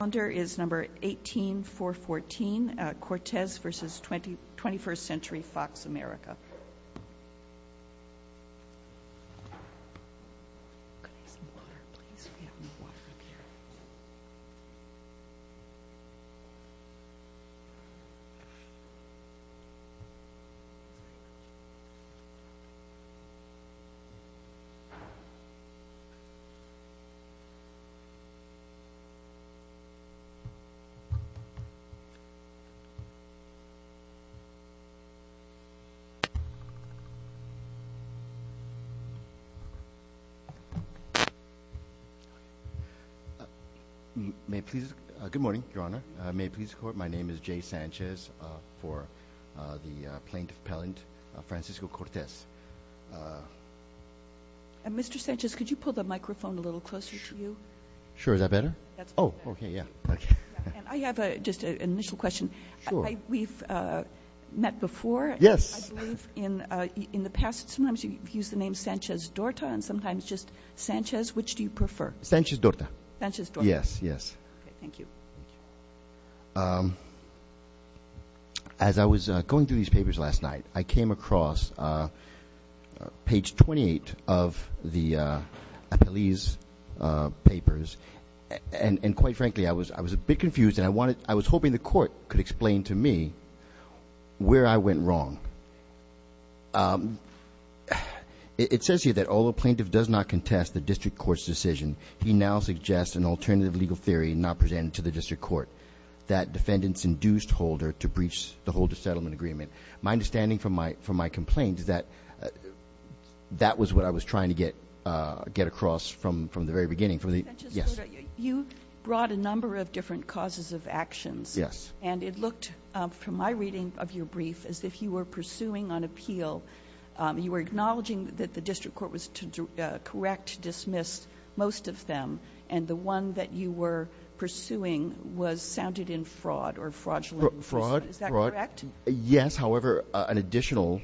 Calendar is number 18414, Cortes v. Twenty-First Century, Fox, America. Good morning, Your Honor. May it please the Court, my name is Jay Sanchez for the plaintiff appellant, Francisco Cortes. Mr. Sanchez, could you pull the microphone a little closer to you? Sure, is that better? That's much better. Oh, okay, yeah. And I have just an initial question. Sure. We've met before. Yes. I believe in the past sometimes you've used the name Sanchez-Dorta and sometimes just Sanchez, which do you prefer? Sanchez-Dorta. Sanchez-Dorta. Yes, yes. Okay, thank you. Thank you. As I was going through these papers last night, I came across page 28 of the appellee's papers and quite frankly I was a bit confused and I was hoping the Court could explain to me where I went wrong. It says here that although the plaintiff does not contest the district court's decision, he now suggests an alternative legal theory not presented to the district court that defendants induced Holder to breach the Holder Settlement Agreement. My understanding from my complaint is that that was what I was trying to get across from the very beginning. Sanchez-Dorta, you brought a number of different causes of actions and it looked, from my reading of your brief, as if you were pursuing an appeal. You were acknowledging that the district court was to correct, dismiss most of them and the one that you were pursuing was sounded in fraud or fraudulent inducement. Fraud. Fraud. Is that correct? Yes. However, an additional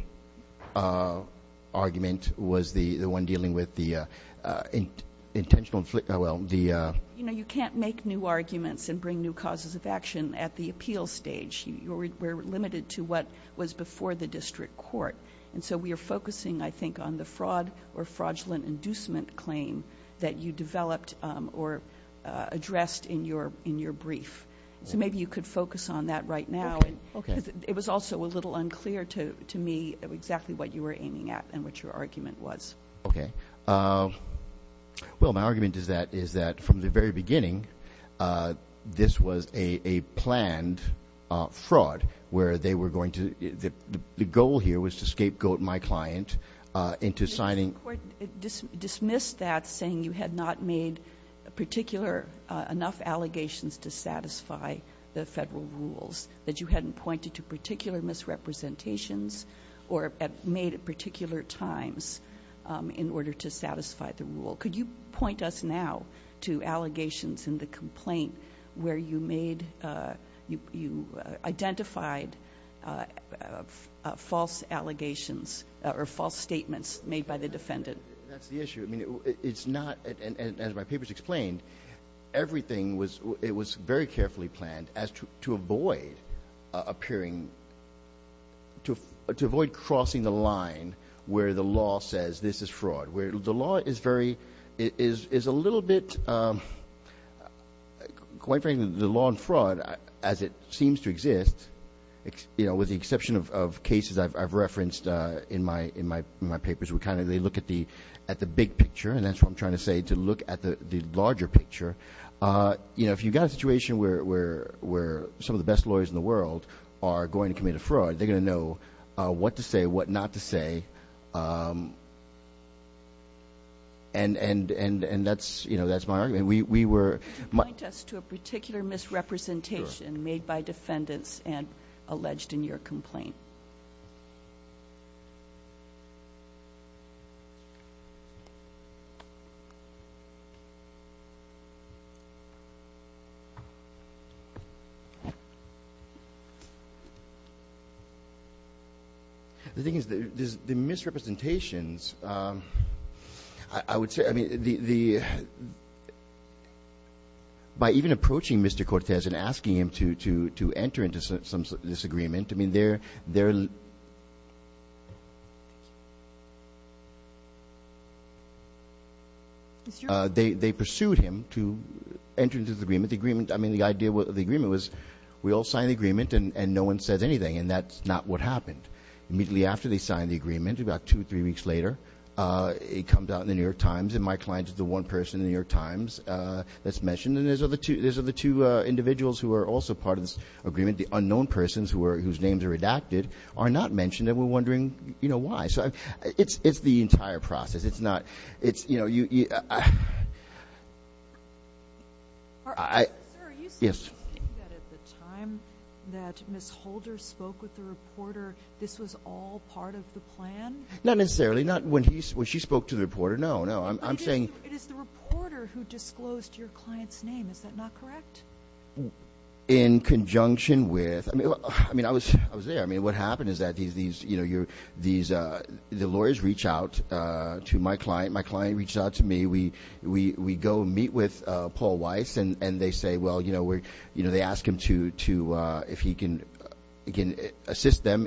argument was the one dealing with the intentional, well, the... You can't make new arguments and bring new causes of action at the appeal stage. You're limited to what was before the district court. And so we are focusing, I think, on the fraud or fraudulent inducement claim that you developed or addressed in your brief. So maybe you could focus on that right now. It was also a little unclear to me exactly what you were aiming at and what your argument was. Okay. Well, my argument is that from the very beginning, this was a planned fraud where they were going to... The goal here was to scapegoat my client into signing... The district court dismissed that saying you had not made particular enough allegations to satisfy the federal rules, that you hadn't pointed to particular misrepresentations or at made at particular times in order to satisfy the rule. Could you point us now to allegations in the complaint where you made... Identified false allegations or false statements made by the defendant? That's the issue. I mean, it's not... And as my papers explained, everything was... It was very carefully planned as to avoid appearing... To avoid crossing the line where the law says this is fraud, where the law is very... Is a little bit... Quite frankly, the law on fraud, as it seems to exist, with the exception of cases I've referenced in my papers, where they look at the big picture, and that's what I'm trying to say, to look at the larger picture, if you've got a situation where some of the best lawyers in the world are going to commit a fraud, they're going to know what to say, what not to say, and that's my argument. We were... Could you point us to a particular misrepresentation made by defendants and alleged in your complaint? The thing is, the misrepresentations, I would say... The... By even approaching Mr. Cortez and asking him to enter into some disagreement, I mean, they're... They pursued him to enter into this agreement. The agreement... I mean, the idea... The agreement was, we all signed the agreement, and no one says anything, and that's not what happened. Immediately after they signed the agreement, about two, three weeks later, it comes out in the New York Times, and my client is the one person in the New York Times that's mentioned, and these are the two individuals who are also part of this agreement, the unknown persons whose names are redacted, are not mentioned, and we're wondering why. It's the entire process. It's not... It's... Sir, are you saying that at the time that Ms. Holder spoke with the reporter, this was all part of the plan? Not necessarily. Not when he... When she spoke to the reporter. No, no. I'm saying... It is the reporter who disclosed your client's name, is that not correct? In conjunction with... I mean, I was... I was there. I mean, what happened is that these... The lawyers reach out to my client. My client reached out to me. We go meet with Paul Weiss, and they say, well, we're... if he can assist them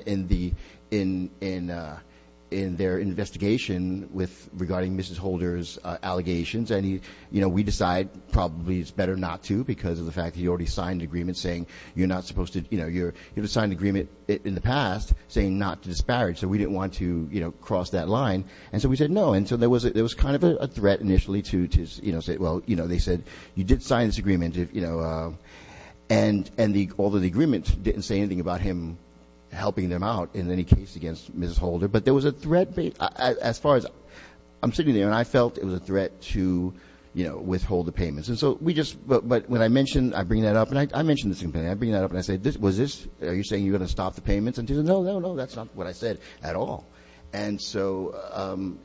in their investigation regarding Mrs. Holder's allegations, and we decide probably it's better not to because of the fact that he already signed an agreement saying you're not supposed to... You've signed an agreement in the past saying not to disparage, so we didn't want to cross that line, and so we said no, and so there was kind of a threat initially to say, well, you know, they said you did sign this agreement, you know, and although the agreement didn't say anything about him helping them out in any case against Mrs. Holder, but there was a threat as far as... I'm sitting there, and I felt it was a threat to, you know, withhold the payments, and so we just... But when I mentioned... I bring that up, and I mentioned the same thing. I bring that up, and I said, was this... Are you saying you're going to stop the payments? And he said, no, no, no. That's not what I said at all, and so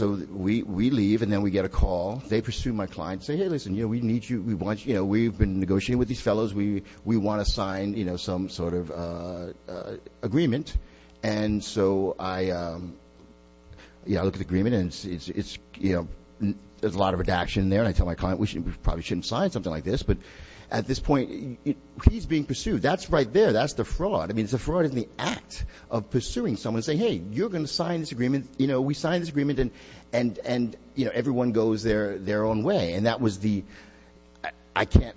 we leave, and then we get a call. They pursue my client, say, hey, listen, you know, we need you. We want you... You know, we've been negotiating with these fellows. We want to sign, you know, some sort of agreement, and so I, you know, look at the agreement, and it's, you know, there's a lot of redaction there, and I tell my client we probably shouldn't sign something like this, but at this point, he's being pursued. That's right there. That's the fraud. I mean, it's a fraud in the act of pursuing someone saying, hey, you're going to sign this agreement. You know, we signed this agreement, and, you know, everyone goes their own way, and that was the... I can't...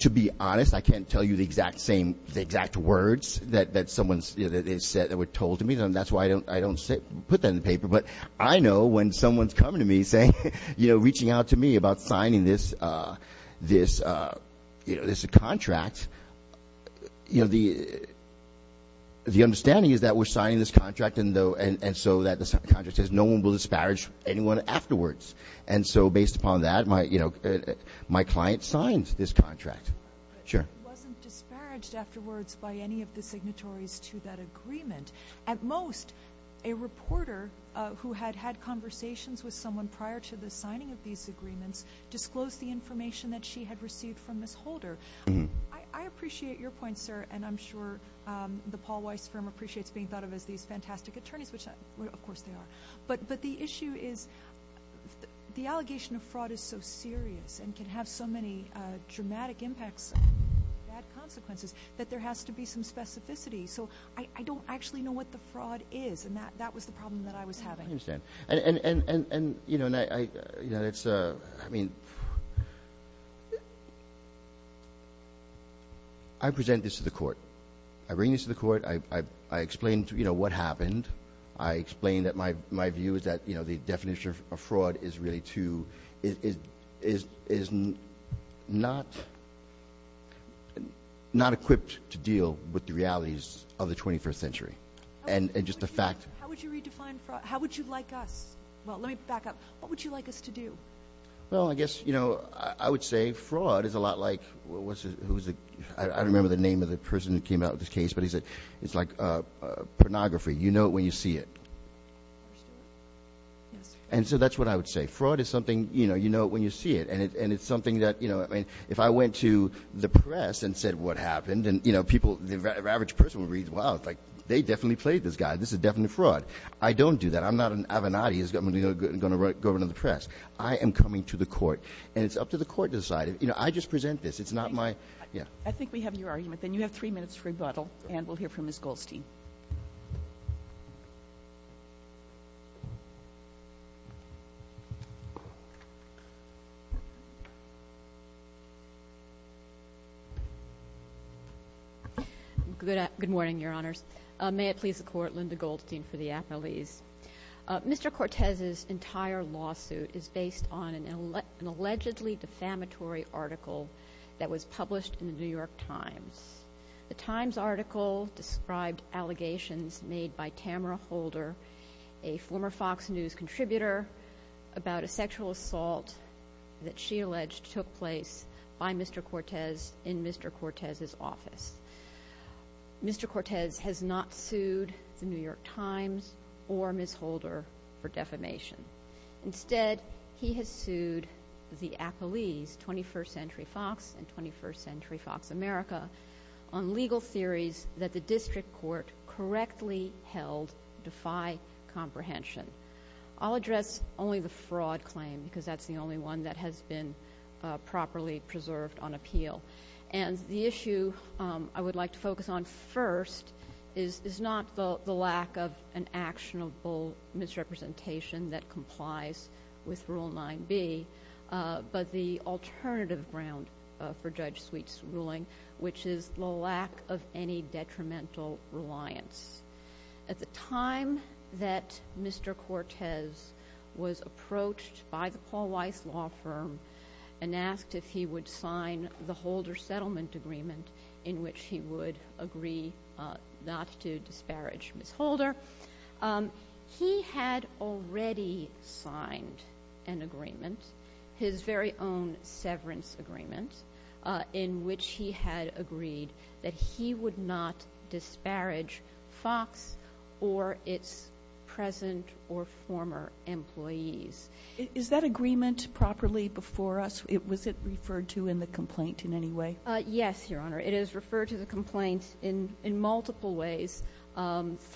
To be honest, I can't tell you the exact same... The exact words that someone has said that were told to me, and that's why I don't put that in the paper, but I know when someone's coming to me saying, you know, reaching out to me about signing this, you know, this contract, you know, the understanding is that we're going to sign this contract. There's no one who will disparage anyone afterwards, and so based upon that, my, you know, my client signs this contract. Sure. But he wasn't disparaged afterwards by any of the signatories to that agreement. At most, a reporter who had had conversations with someone prior to the signing of these agreements disclosed the information that she had received from Ms. Holder. I appreciate your point, sir, and I'm sure the Paul Weiss firm appreciates being thought of as these fantastic attorneys, which, of course, they are, but the issue is the allegation of fraud is so serious and can have so many dramatic impacts and bad consequences that there has to be some specificity, so I don't actually know what the fraud is, and that was the problem that I was having. I understand, and, you know, I mean... I present this to the court. I bring this to the court. I explained, you know, what happened. I explained that my view is that, you know, the definition of fraud is really too... is not equipped to deal with the realities of the 21st century, and just the fact... How would you redefine fraud? How would you like us... Well, let me back up. What would you like us to do? Well, I guess, you know, I would say fraud is a lot like... I don't remember the name of the person who came out with this case, but he said it's like pornography. You know it when you see it, and so that's what I would say. Fraud is something, you know, you know it when you see it, and it's something that, you know... I mean, if I went to the press and said what happened, and, you know, people, the average person would read, wow, it's like they definitely played this guy. This is definitely fraud. I don't do that. I'm not an Avenatti who's going to go into the press. I am coming to the court, and it's up to the court to decide. You know, I just present this. It's not my... Yeah. I think we have your argument, then. You have three minutes to rebuttal, and we'll hear from Ms. Goldstein. Good morning, Your Honors. May it please the Court, Linda Goldstein for the Appellees. Mr. Cortez's entire lawsuit is based on an allegedly defamatory article that was published in the New York Times. The Times article described allegations made by Tamara Holder, a former Fox News contributor, about a sexual assault that she alleged took place by Mr. Cortez in Mr. Cortez's office. Mr. Cortez has not sued the New York Times or Ms. Holder for defamation. Instead, he has sued the Appellees, 21st Century Fox and 21st Century Fox America, on legal theories that the district court correctly held defy comprehension. I'll address only the fraud claim, because that's the only one that has been properly preserved on appeal. The issue I would like to focus on first is not the lack of an actionable misrepresentation that complies with Rule 9b, but the alternative ground for Judge Sweet's ruling, which is the lack of any detrimental reliance. At the time that Mr. Cortez was approached by the Paul Weiss law firm and asked if he would sign the Holder Settlement Agreement, in which he would agree not to disparage Ms. Holder, he had already signed an agreement, his very own severance agreement, in which he had agreed that he would not disparage Fox or its present or former employees. Is that agreement properly before us? Was it referred to in the complaint in any way? Yes, Your Honor. It is referred to the complaint in multiple ways,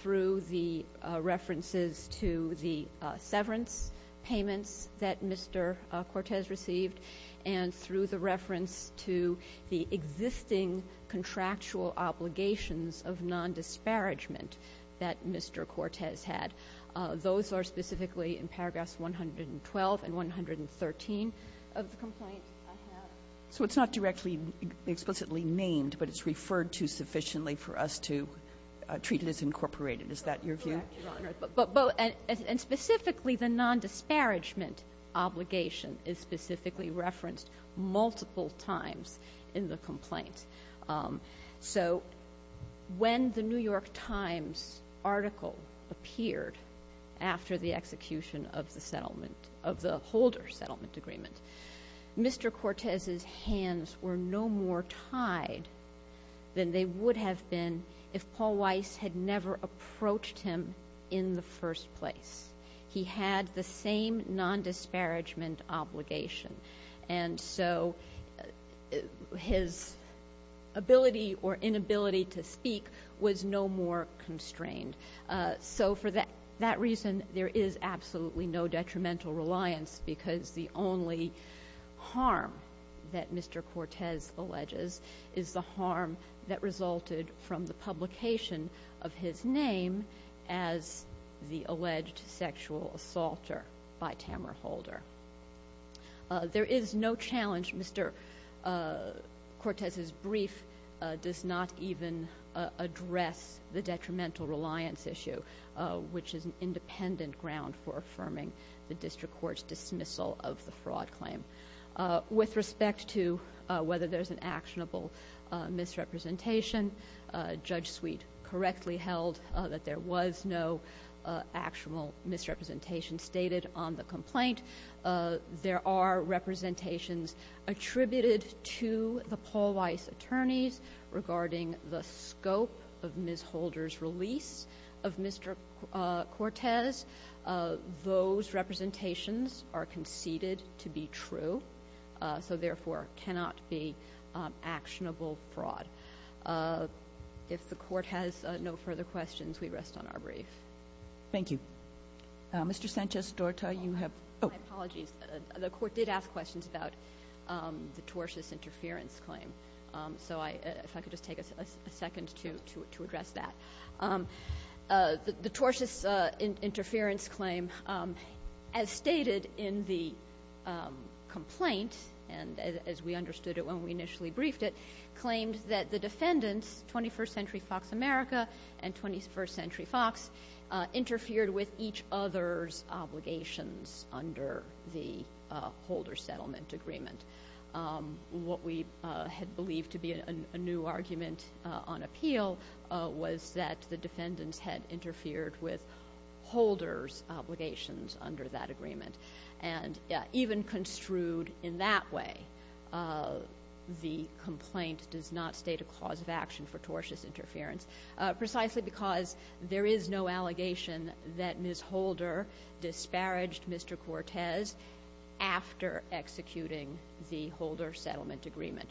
through the references to the severance payments that Mr. Cortez received and through the reference to the existing contractual obligations of non-disparagement that Mr. Cortez had. Those are specifically in paragraphs 112 and 113 of the complaint I have. So it's not directly, explicitly named, but it's referred to sufficiently for us to treat it as incorporated. Is that your view? Correct, Your Honor. And specifically, the non-disparagement obligation is specifically referenced multiple times in the complaint. So, when the New York Times article appeared after the execution of the Holder Settlement Agreement, Mr. Cortez's hands were no more tied than they would have been if Paul Weiss had never approached him in the first place. He had the same non-disparagement obligation. And so, his ability or inability to speak was no more constrained. So for that reason, there is absolutely no detrimental reliance because the only harm that Mr. Cortez alleges is the harm that resulted from the publication of his name as the alleged sexual assaulter by Tamara Holder. There is no challenge Mr. Cortez's brief does not even address the detrimental reliance issue, which is an independent ground for affirming the district court's dismissal of the fraud claim. With respect to whether there's an actionable misrepresentation, Judge Sweet correctly held that there was no actual misrepresentation stated on the complaint. There are representations attributed to the Paul Weiss attorneys regarding the scope of Ms. Holder's release of Mr. Cortez. Those representations are conceded to be true, so therefore cannot be actionable fraud. If the court has no further questions, we rest on our brief. Thank you. Mr. Sanchez-Dorta, you have— My apologies. The court did ask questions about the tortious interference claim. So if I could just take a second to address that. The tortious interference claim, as stated in the complaint, and as we understood it when we initially briefed it, claimed that the defendants, 21st Century Fox America and 21st Century Fox, interfered with each other's obligations under the Holder Settlement Agreement. What we had believed to be a new argument on appeal was that the defendants had interfered with Holder's obligations under that agreement, and even construed in that way, the complaint does not state a cause of action for tortious interference, precisely because there is no allegation that Ms. Holder disparaged Mr. Cortez after executing the Holder Settlement Agreement.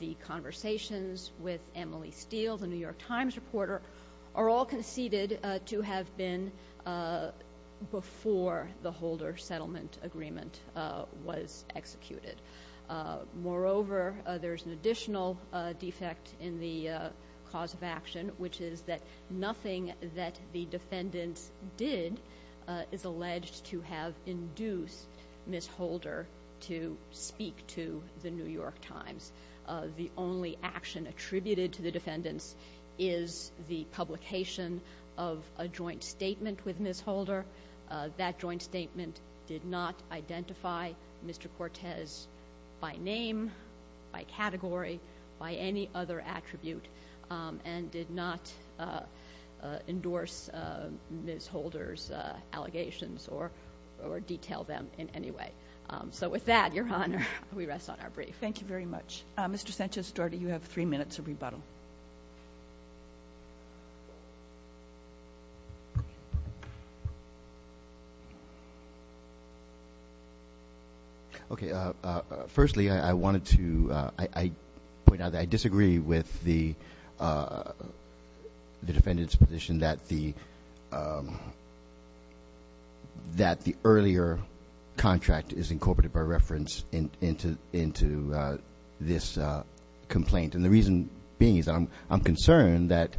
The conversations with Emily Steele, the New York Times reporter, are all conceded to have been before the Holder Settlement Agreement was executed. Moreover, there is an additional defect in the cause of action, which is that nothing that the defendants did is alleged to have induced Ms. Holder to speak to the New York Times. The only action attributed to the defendants is the publication of a joint statement with Ms. Holder. That joint statement did not identify Mr. Cortez by name, by category, by any other attribute, and did not endorse Ms. Holder's allegations or detail them in any way. So with that, Your Honor, we rest on our brief. Thank you very much. Mr. Sanchez-Storti, you have three minutes of rebuttal. Okay. Firstly, I wanted to point out that I disagree with the defendant's position that the earlier contract is incorporated by reference into this complaint. And the reason being is that I'm concerned that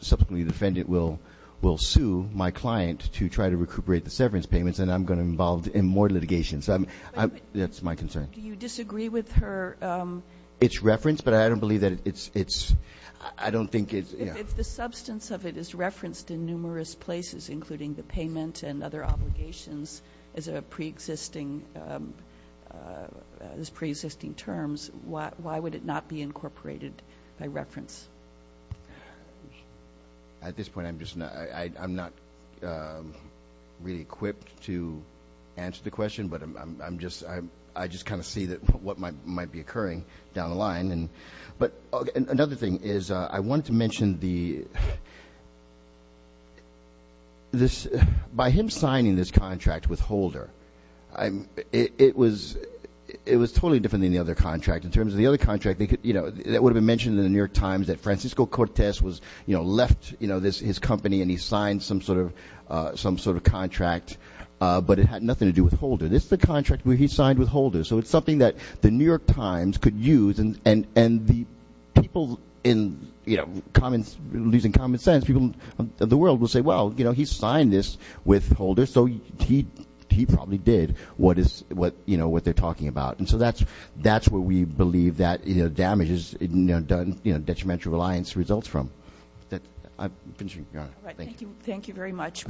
subsequently the defendant will sue my client to try to recuperate the severance payments, and I'm going to be involved in more litigation. So that's my concern. Do you disagree with her? It's referenced, but I don't believe that it's – I don't think it's – If the substance of it is referenced in numerous places, including the payment and other obligations, as pre-existing terms, why would it not be incorporated by reference? At this point, I'm just not – I'm not really equipped to answer the question, but I'm just – I just kind of see what might be occurring down the line. But another thing is I wanted to mention the – this – by him signing this contract with Holder, it was totally different than the other contract. In terms of the other contract, you know, that would have been mentioned in the New York Times that Francisco Cortez was – you know, left, you know, his company and he signed some sort of contract, but it had nothing to do with Holder. This is a contract where he signed with Holder, so it's something that the New York Times could use, and the people in – you know, common – losing common sense, people of the world will say, well, you know, he signed this with Holder, so he probably did what is – you know, what they're talking about. And so that's what we believe that, you know, damages, you know, detrimental reliance results from. I'm finishing, Your Honor. Thank you. All right. Thank you. Thank you very much.